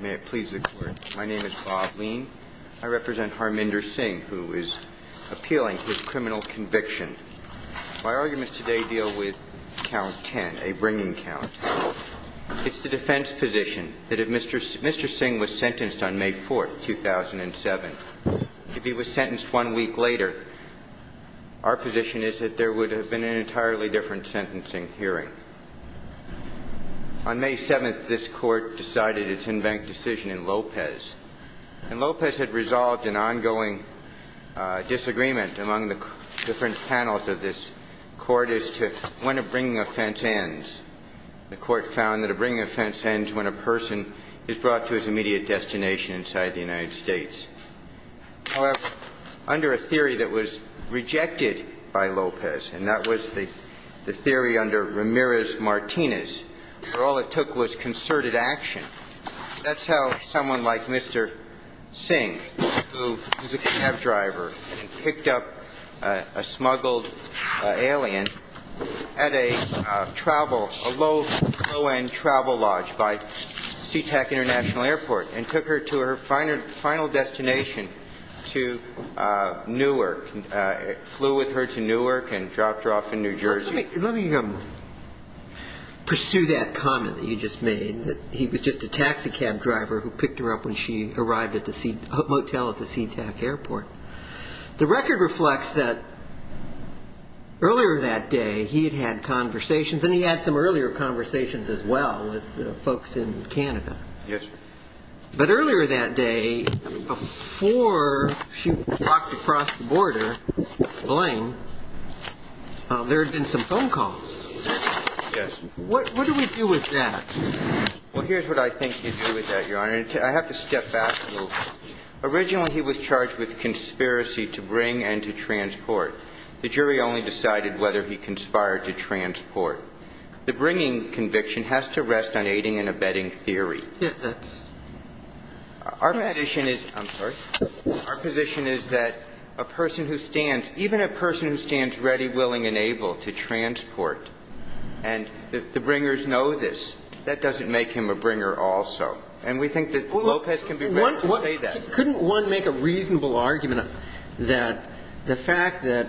May it please the court. My name is Bob Lean. I represent Harminder Singh, who is appealing his criminal conviction. My arguments today deal with count 10, a bringing count. It's the defense position that if Mr. Singh was sentenced on May 4th, 2007, if he was sentenced one week later, our position is that there would have been an entirely different sentencing hearing. On May 7th, this Court decided its in-bank decision in Lopez. And Lopez had resolved an ongoing disagreement among the different panels of this Court as to when a bringing offense ends. The Court found that a bringing offense ends when a person is brought to his immediate destination inside the United States. However, under a theory that was rejected by Lopez, and that was the theory under Ramirez-Martinez, where all it took was concerted action, that's how someone like Mr. Singh, who is a cab driver, picked up a smuggled alien at a travel, a low-end travel lodge by Sea-Tac International Airport and took her to her final destination, to Newark. Flew with her to Newark and dropped her off in New Jersey. Let me pursue that comment that you just made, that he was just a taxi cab driver who picked her up when she arrived at the motel at the Sea-Tac Airport. The record reflects that earlier that day, he had had conversations, and he had some earlier conversations as well with folks in Canada. Yes. But earlier that day, before she walked across the border, the plane, there had been some phone calls. Yes. What do we do with that? Well, here's what I think you do with that, Your Honor. I have to step back a little. Originally, he was charged with conspiracy to bring and to transport. The jury only decided whether he conspired to transport. The bringing conviction has to rest on aiding and abetting theory. Yes. Our position is that a person who stands, even a person who stands ready, willing, and able to transport, and the bringers know this, that doesn't make him a bringer also. And we think that Lopez can be ready to say that. Couldn't one make a reasonable argument that the fact that,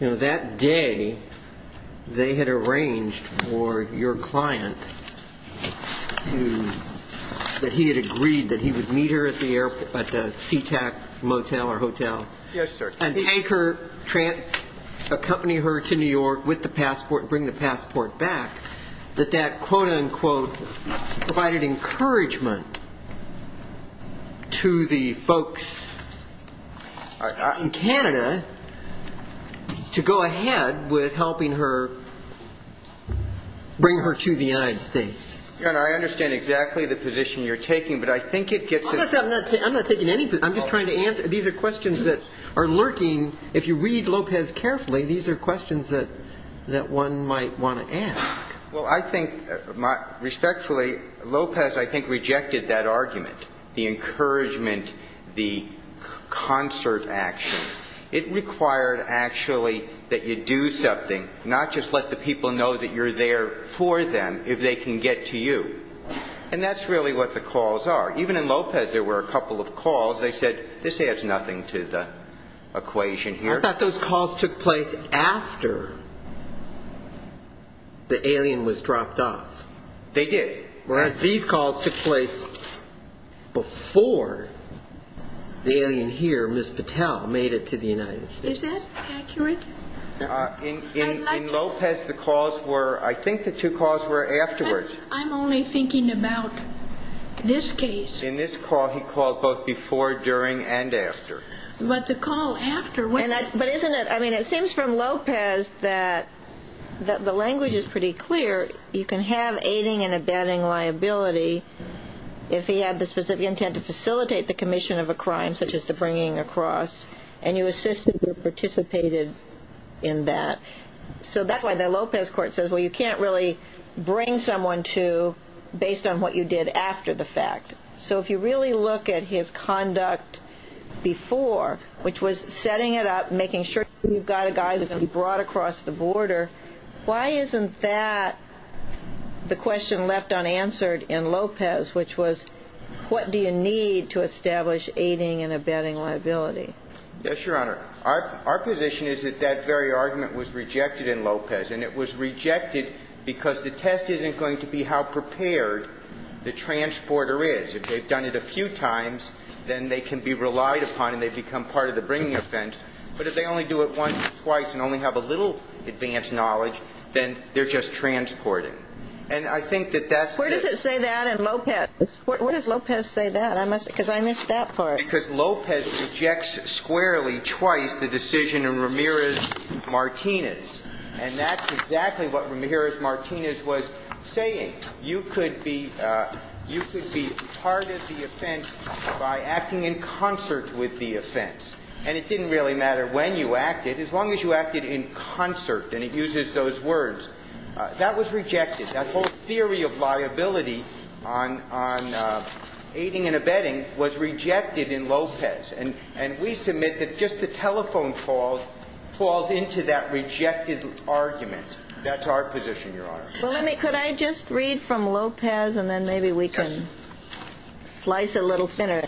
you know, that day they had arranged for your client to, that he had agreed that he would meet her at the Sea-Tac motel or hotel? Yes, sir. And take her, accompany her to New York with the passport, bring the passport back, that that quote-unquote provided encouragement to the folks in Canada to go ahead with helping her bring her to the United States? Your Honor, I understand exactly the position you're taking, but I think it gets at the I'm just trying to answer. These are questions that are lurking. If you read Lopez carefully, these are questions that one might want to ask. Well, I think, respectfully, Lopez, I think, rejected that argument, the encouragement, the concert action. It required, actually, that you do something, not just let the people know that you're there for them, if they can get to you. And that's really what the calls they said, this adds nothing to the equation here. I thought those calls took place after the alien was dropped off. They did. Well, as these calls took place before the alien here, Ms. Patel, made it to the United States. Is that accurate? In Lopez, the calls were, I think the two calls were afterwards. I'm only thinking about this case. In this call, he called both before, during, and after. But the call after, what's the... But isn't it, I mean, it seems from Lopez that the language is pretty clear. You can have aiding and abetting liability if he had the specific intent to facilitate the commission of a crime, such as the bringing a cross, and you assisted or participated in that. So that's why the Lopez court says, well, you can't really bring someone to, based on what you did after the fact. So if you really look at his conduct before, which was setting it up, making sure you've got a guy that's going to be brought across the border, why isn't that the question left unanswered in Lopez, which was, what do you need to establish aiding and abetting liability? Yes, Your Honor. Our position is that that very argument was rejected in Lopez, and it was rejected because the test isn't going to be how prepared the transporter is. If they've done it a few times, then they can be relied upon and they become part of the bringing offense. But if they only do it once or twice and only have a little advanced knowledge, then they're just transporting. And I think that that's the... Where does it say that in Lopez? Where does Lopez say that? Because I missed that part. Because Lopez rejects squarely, twice, the decision in Ramirez-Martinez. And that's exactly what Ramirez-Martinez was saying. You could be part of the offense by acting in concert with the offense. And it didn't really matter when you acted, as long as you acted in concert. And it uses those words. That was rejected. That whole theory of liability on aiding and abetting in Lopez. And we submit that just the telephone call falls into that rejected argument. That's our position, Your Honor. Well, let me... Could I just read from Lopez, and then maybe we can slice a little thinner?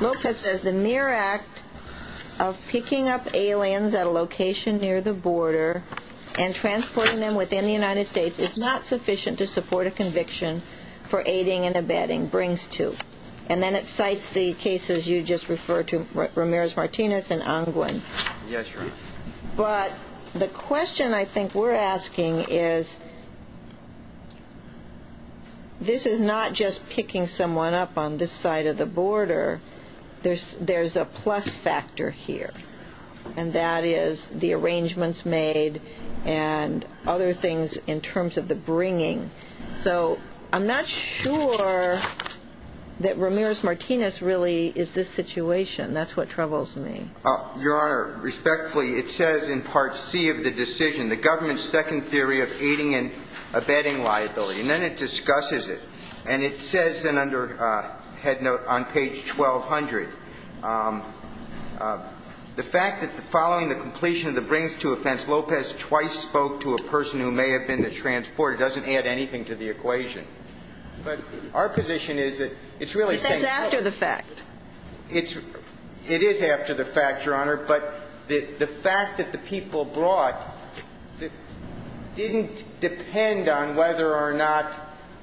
Lopez says, the mere act of picking up aliens at a location near the border and transporting them within the United States is not sufficient to support a conviction for aiding and abetting. And brings to. And then it cites the cases you just referred to, Ramirez-Martinez and Angwin. Yes, Your Honor. But the question I think we're asking is, this is not just picking someone up on this side of the border. There's a plus factor here. And that is the arrangements made and other things in terms of the bringing. So I'm not sure that Ramirez-Martinez really is this situation. That's what troubles me. Your Honor, respectfully, it says in Part C of the decision, the government's second theory of aiding and abetting liability. And then it discusses it. And it says, and under head note on page 1200, the fact that following the completion of the brings to offense, Lopez twice spoke to a person who may have been the transporter doesn't add anything to the equation. But our position is that it's really saying But that's after the fact. It is after the fact, Your Honor. But the fact that the people brought didn't depend on whether or not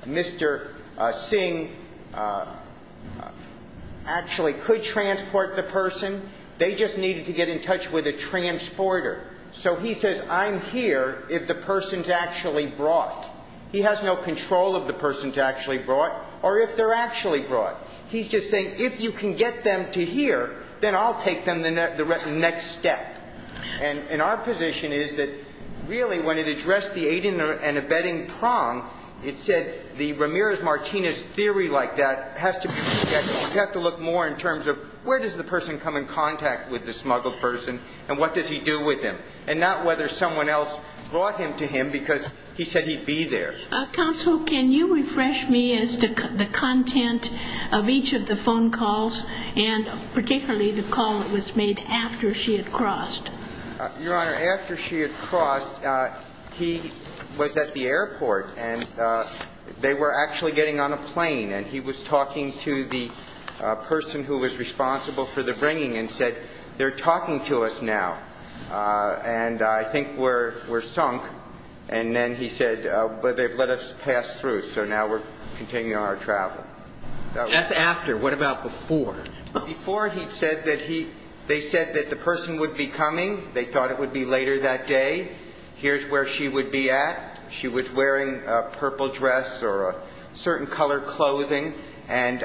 Mr. Singh actually could transport the person. They just needed to get in touch with a transporter. So he says, I'm here if the person's actually brought. He has no control of the person's actually brought or if they're actually brought. He's just saying, if you can get them to here, then I'll take them the next step. And our position is that really when it addressed the aiding and abetting prong, it said the Ramirez-Martinez theory like that has to be looked at. You have to look more in terms of where does the person come in contact with the smuggled person and what does he do with him, and not whether someone else brought him to him because he said he'd be there. Counsel, can you refresh me as to the content of each of the phone calls and particularly the call that was made after she had crossed? Your Honor, after she had crossed, he was at the airport and they were actually getting on a plane. And he was talking to the person who was responsible for the bringing and said, they're talking to us now. And I think we're sunk. And then he said, well, they've let us pass through, so now we're continuing our travel. That's after. What about before? Before, he'd said that he, they said that the person would be coming. They thought it would be later that day. Here's where she would be at. She was wearing a purple dress or a certain color clothing. And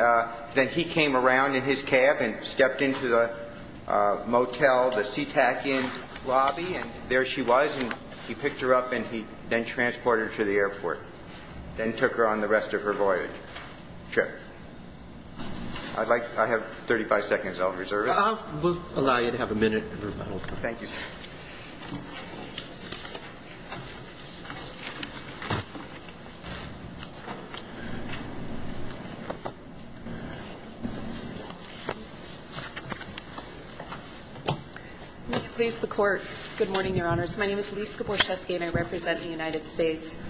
then he came around in his cab and stepped into the motel, the SeaTac Inn lobby, and there she was. And he picked her up and he then transported her to the airport, then took her on the rest of her voyage trip. I'd like, I have 35 seconds on reserve. Please, the court. Good morning, Your Honors. My name is Lisa Borchesky and I represent the United States.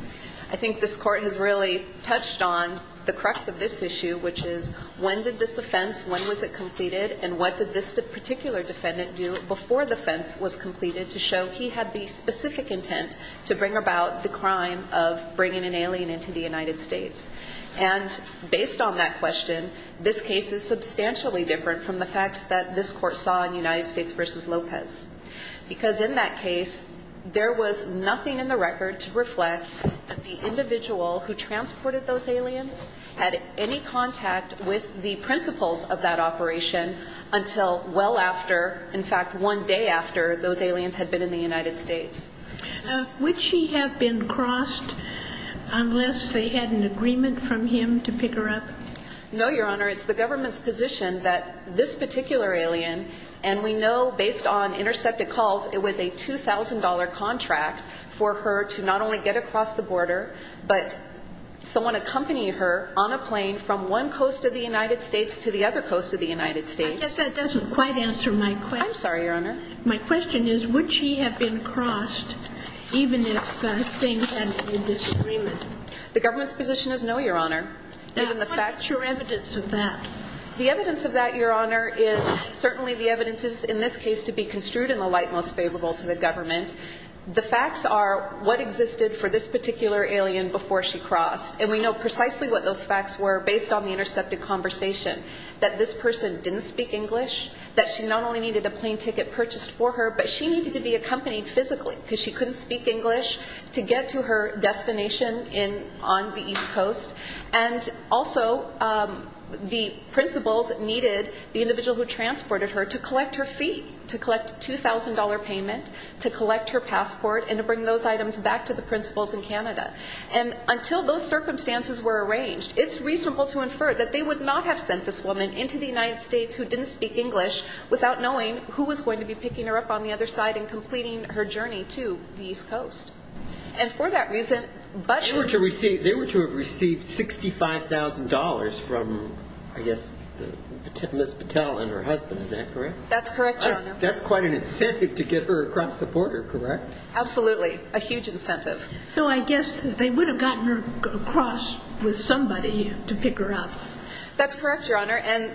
I think this court has really touched on the crux of this issue, which is when did this offense, when was it completed? And what did this particular defendant do before the offense was completed to show he had the specific intent to bring about the crime of bringing an alien into the United States? And based on that question, this case is substantially different from the facts that this court saw in United States v. Lopez. Because in that case, there was nothing in the record to reflect that the individual who transported those aliens had any contact with the principles of that operation until well after, in fact, one day after those aliens had been in the United States. Would she have been crossed unless they had an agreement from him to pick her up? No, Your Honor. It's the government's position that this particular alien, and we know based on intercepted calls, it was a $2,000 contract for her to not only get across the border, but someone accompany her on a plane from one coast of the United States to the other coast of the United States. I guess that doesn't quite answer my question. I'm sorry, Your Honor. My question is, would she have been crossed even if the same had been this agreement? The government's position is no, Your Honor. Now, what is your evidence of that? The evidence of that, Your Honor, is certainly the evidences in this case to be construed in the light most favorable to the government. The facts are what existed for this particular alien before she crossed. And we know precisely what those facts were based on the intercepted conversation, that this person didn't speak English, that she not only needed a plane ticket purchased for her, but she needed to be accompanied physically because she couldn't speak English to get to her destination on the East Coast. And also, the principals needed the individual who transported her to collect her fee, to collect a $2,000 payment, to collect her passport, and to bring those items back to the principals in Canada. And until those circumstances were arranged, it's reasonable to infer that they would not have sent this woman into the United States who didn't speak English without knowing who was going to be picking her up on the other side and completing her journey to the East Coast. And for that reason, but... They were to receive, they were to have received $65,000 from, I guess, Ms. Patel and her husband, is that correct? That's correct, Your Honor. That's quite an incentive to get her across the border, correct? Absolutely. A huge incentive. So I guess they would have gotten her across with somebody to pick her up. That's correct, Your Honor. And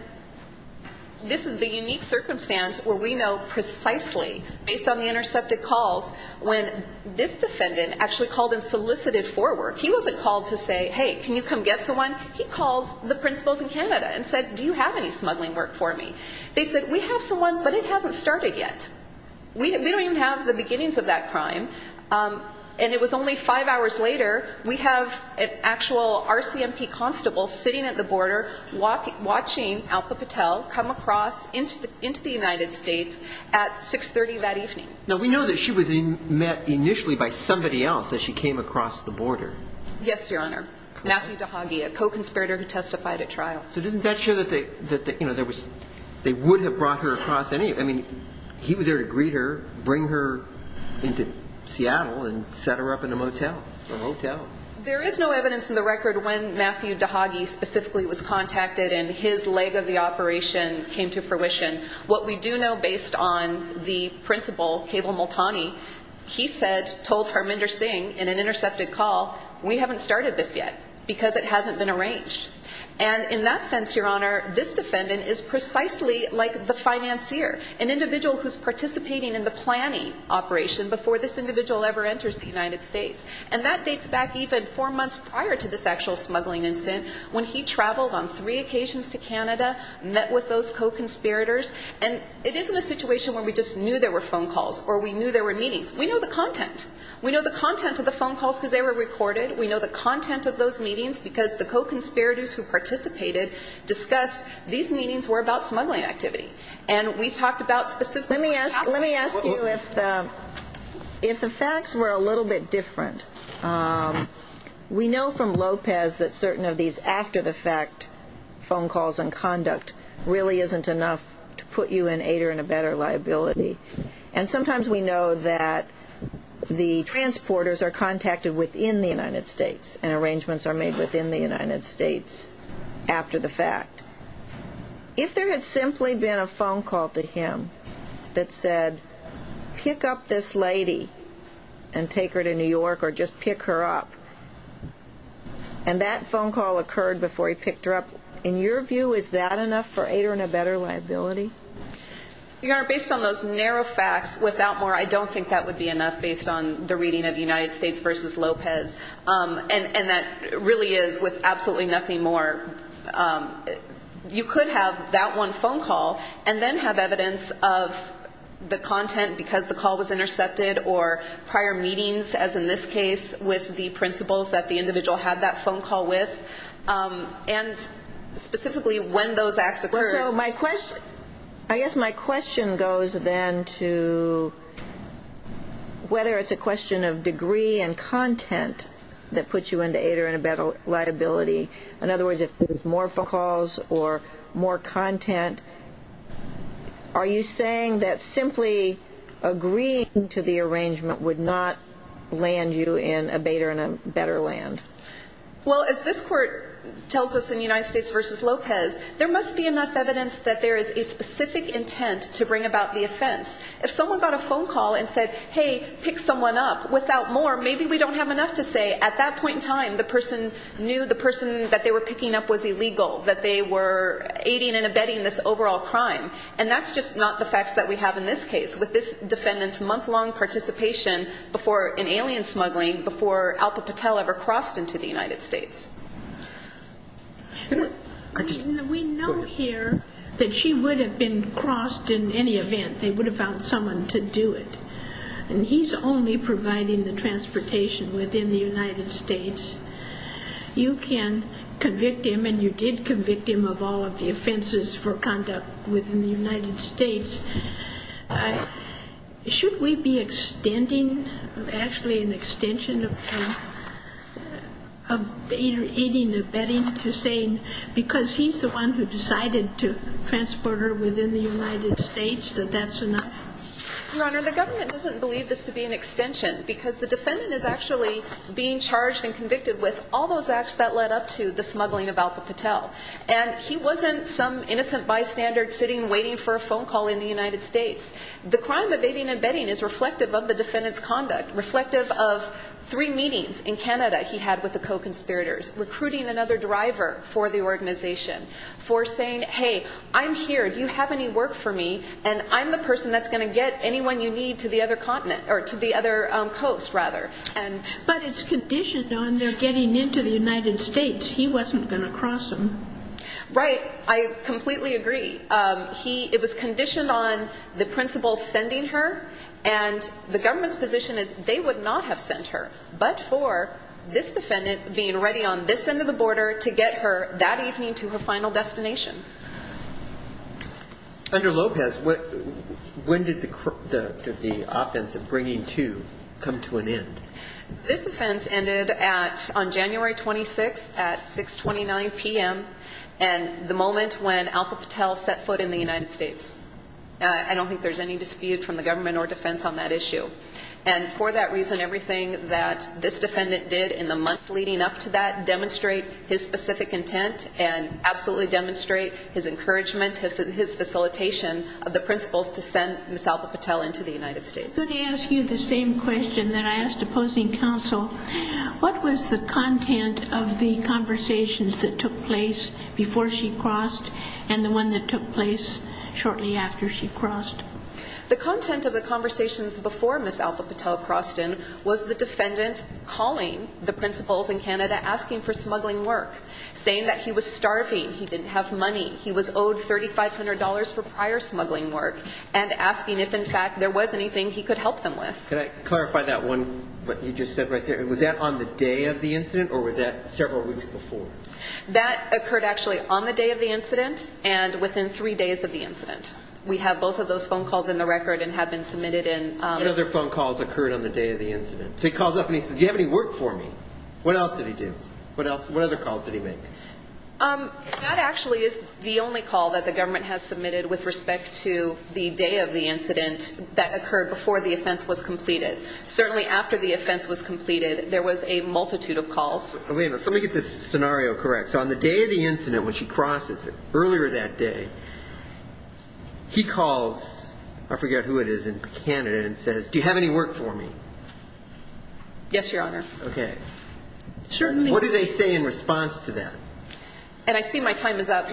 this is the unique circumstance where we know precisely, based on the intercepted calls, when this defendant actually called and solicited for work. He wasn't called to say, hey, can you come get someone? He called the principals in Canada and said, do you have any smuggling work for me? They said, we have someone, but it hasn't started yet. We don't even have the beginnings of that crime. And it was only five hours later, we have an actual RCMP constable sitting at the border, watching Alpa Patel come across into the United States at 6.30 that evening. Now, we know that she was met initially by somebody else as she came across the border. Yes, Your Honor. Matthew DeHage, a co-conspirator who testified at trial. So doesn't that show that they would have brought her across any... I mean, he was there to greet her, bring her into Seattle, and set her up in a motel. A motel. There is no evidence in the record when Matthew DeHage specifically was contacted and his leg of the operation came to fruition. What we do know, based on the principal, Keval Multani, he said, told Harminder Singh in an intercepted call, we haven't started this yet because it hasn't been arranged. And in that sense, Your Honor, this defendant is participating in the planning operation before this individual ever enters the United States. And that dates back even four months prior to this actual smuggling incident, when he traveled on three occasions to Canada, met with those co-conspirators. And it isn't a situation where we just knew there were phone calls or we knew there were meetings. We know the content. We know the content of the phone calls because they were recorded. We know the content of those meetings because the co-conspirators who participated discussed these meetings were about smuggling activity. And we talked about specifically... Let me ask you if the facts were a little bit different. We know from Lopez that certain of these after-the-fact phone calls and conduct really isn't enough to put you and Ader in a better liability. And sometimes we know that the transporters are contacted within the United States and arrangements are made within the United States after the fact. If there had simply been a phone call to him that said, pick up this lady and take her to New York or just pick her up, and that phone call occurred before he picked her up, in your view, is that enough for Ader in a better liability? Your Honor, based on those narrow facts, without more, I don't think that would be enough based on the reading of United States v. Lopez. And that really is with absolutely nothing more. You could have that one phone call and then have evidence of the content because the call was intercepted or prior meetings, as in this case, with the principals that the individual had that phone call with, and specifically when those acts occurred. So my question, I guess my question goes then to whether it's a question of degree and content that puts you into Ader in a better liability. In other words, if there's more phone calls or more content, are you saying that simply agreeing to the arrangement would not land you in Ader in a better land? Well, as this Court tells us in United States v. Lopez, there must be enough evidence that there is a specific intent to bring about the offense. If someone got a phone call and said, hey, pick someone up, without more, maybe we don't have enough to say. At that point in time, the person knew the person that they were picking up was illegal, that they were aiding and abetting this overall crime. And that's just not the facts that we have in this case, with this defendant's month-long participation in alien smuggling before Alpa Patel ever crossed into the United States. We know here that she would have been crossed in any event. They would have found someone to do it. And he's only providing the transportation within the United States. You can convict him, and you did convict him of all of the offenses for conduct within the United States. Should we be extending, actually an extension of aiding and abetting to say, because he's the one who decided to transport her within the United States, that that's enough? Your Honor, the government doesn't believe this to be an extension, because the defendant is actually being charged and convicted with all those acts that led up to the smuggling of Alpa Patel. And he wasn't some innocent bystander sitting waiting for a phone call in the United States. The crime of aiding and abetting is reflective of the defendant's conduct, reflective of three meetings in Canada he had with the co-conspirators, recruiting another driver for the organization, for saying, hey, I'm here. Do you have any work for me? And I'm the person that's going to get anyone you need to the other continent or to the other coast, rather. But it's conditioned on their getting into the United States. He wasn't going to cross them. Right. I completely agree. It was conditioned on the principal sending her. And the government's position is they would not have sent her, but for this defendant being ready on this end of the border to get her that evening to her final destination. Under Lopez, when did the offense of bringing two come to an end? This offense ended on January 26th at 6.29 p.m. and the moment when Alpa Patel set foot in the United States. I don't think there's any dispute from the government or defense on that issue. And for that reason, everything that this defendant did in the months leading up to that demonstrate his specific intent and absolutely demonstrate his encouragement, his facilitation of the principals to send Ms. Alpa Patel into the United States. Could I ask you the same question that I asked opposing counsel? What was the content of the conversations that took place before she crossed and the one that took place shortly after she crossed? The content of the conversations before Ms. Alpa Patel crossed in was the defendant calling the principals in Canada asking for smuggling work, saying that he was starving, he didn't have money, he was owed $3,500 for prior smuggling work, and asking if, in fact, there was anything he could help them with. Could I clarify that one, what you just said right there? Was that on the day of the incident or was that several weeks before? That occurred actually on the day of the incident and within three days of the incident. We have both of those phone calls in the record and have been submitted in. What other phone calls occurred on the day of the incident? So he calls up and he says, do you have any work for me? What else did he do? What other calls did he make? That actually is the only call that the government has submitted with respect to the day of the incident that occurred before the offense was completed. Certainly after the offense was completed, there was a multitude of calls. Let me get this scenario correct. So on the day of the incident when she crosses, earlier that day, he calls, I forget who it is in Canada, and says, do you have any work for me? Yes, Your Honor. Okay. What do they say in response to that? And I see my time is up.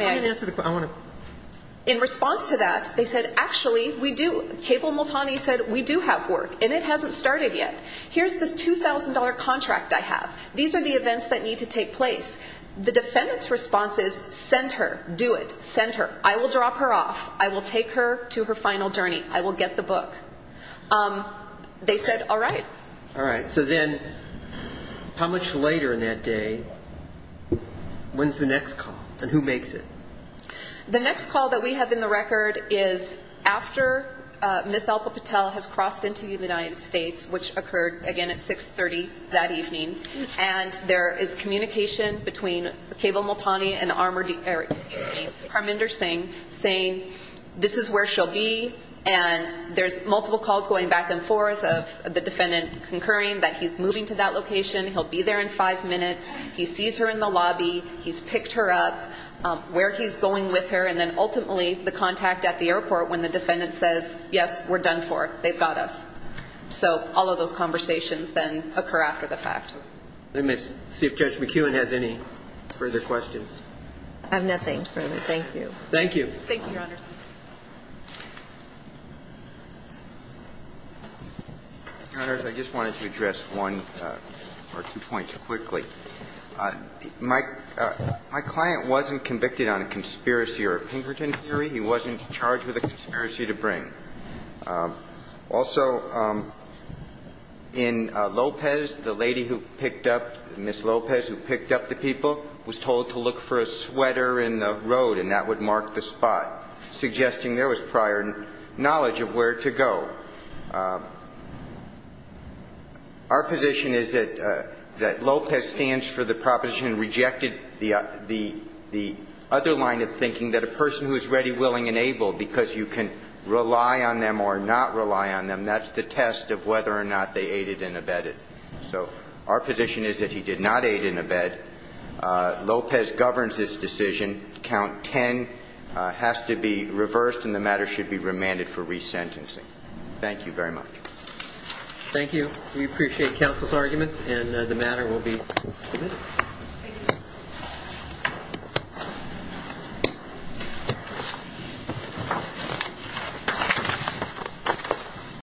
In response to that, they said, actually, we do. Cable Multani said, we do have work and it hasn't started yet. Here's this $2,000 contract I have. These are the events that need to take place. The defendant's response is, send her. Do it. Send her. I will drop her off. I will take her to her final journey. I will get the book. They said, all right. All right. So then, how much later in that day, when's the next call? And who makes it? The next call that we have in the record is after Ms. Alpa Patel has crossed into the United States, which occurred, again, at 6.30 that evening, and there is communication between Cable Multani and Arminder Singh saying, this is where she'll be, and there's multiple calls going back and forth of the defendant concurring that he's moving to that location, he'll be there in five minutes, he sees her in the lobby, he's picked her up, where he's going with her, and then, ultimately, the contact at the airport when the defendant says, yes, we're done for, they've got us. So all of those conversations then occur after the fact. Let me see if Judge McEwen has any further questions. I have nothing further. Thank you. Thank you. Your Honors, I just wanted to address one or two points quickly. My client wasn't convicted on a conspiracy or a Pinkerton theory. He wasn't charged with a conspiracy to bring. Also, in Lopez, the lady who picked up, Ms. Lopez, who picked up the people, was told to look for a sweater in the road, and that would mark the spot, suggesting there was prior knowledge of where to go. Our position is that Lopez stands for the proposition and rejected the other line of thinking, that a person who is ready, willing, and able, because you can rely on them or not rely on them, that's the test of whether or not they aided and abetted. So our position is that he did not aid and abet. Lopez governs his decision. reversed, then that decision, count 10, has to be reversed and the matter should be remanded for resentencing. Thank you very much. Thank you. We appreciate counsel's arguments. And the matter will be submitted.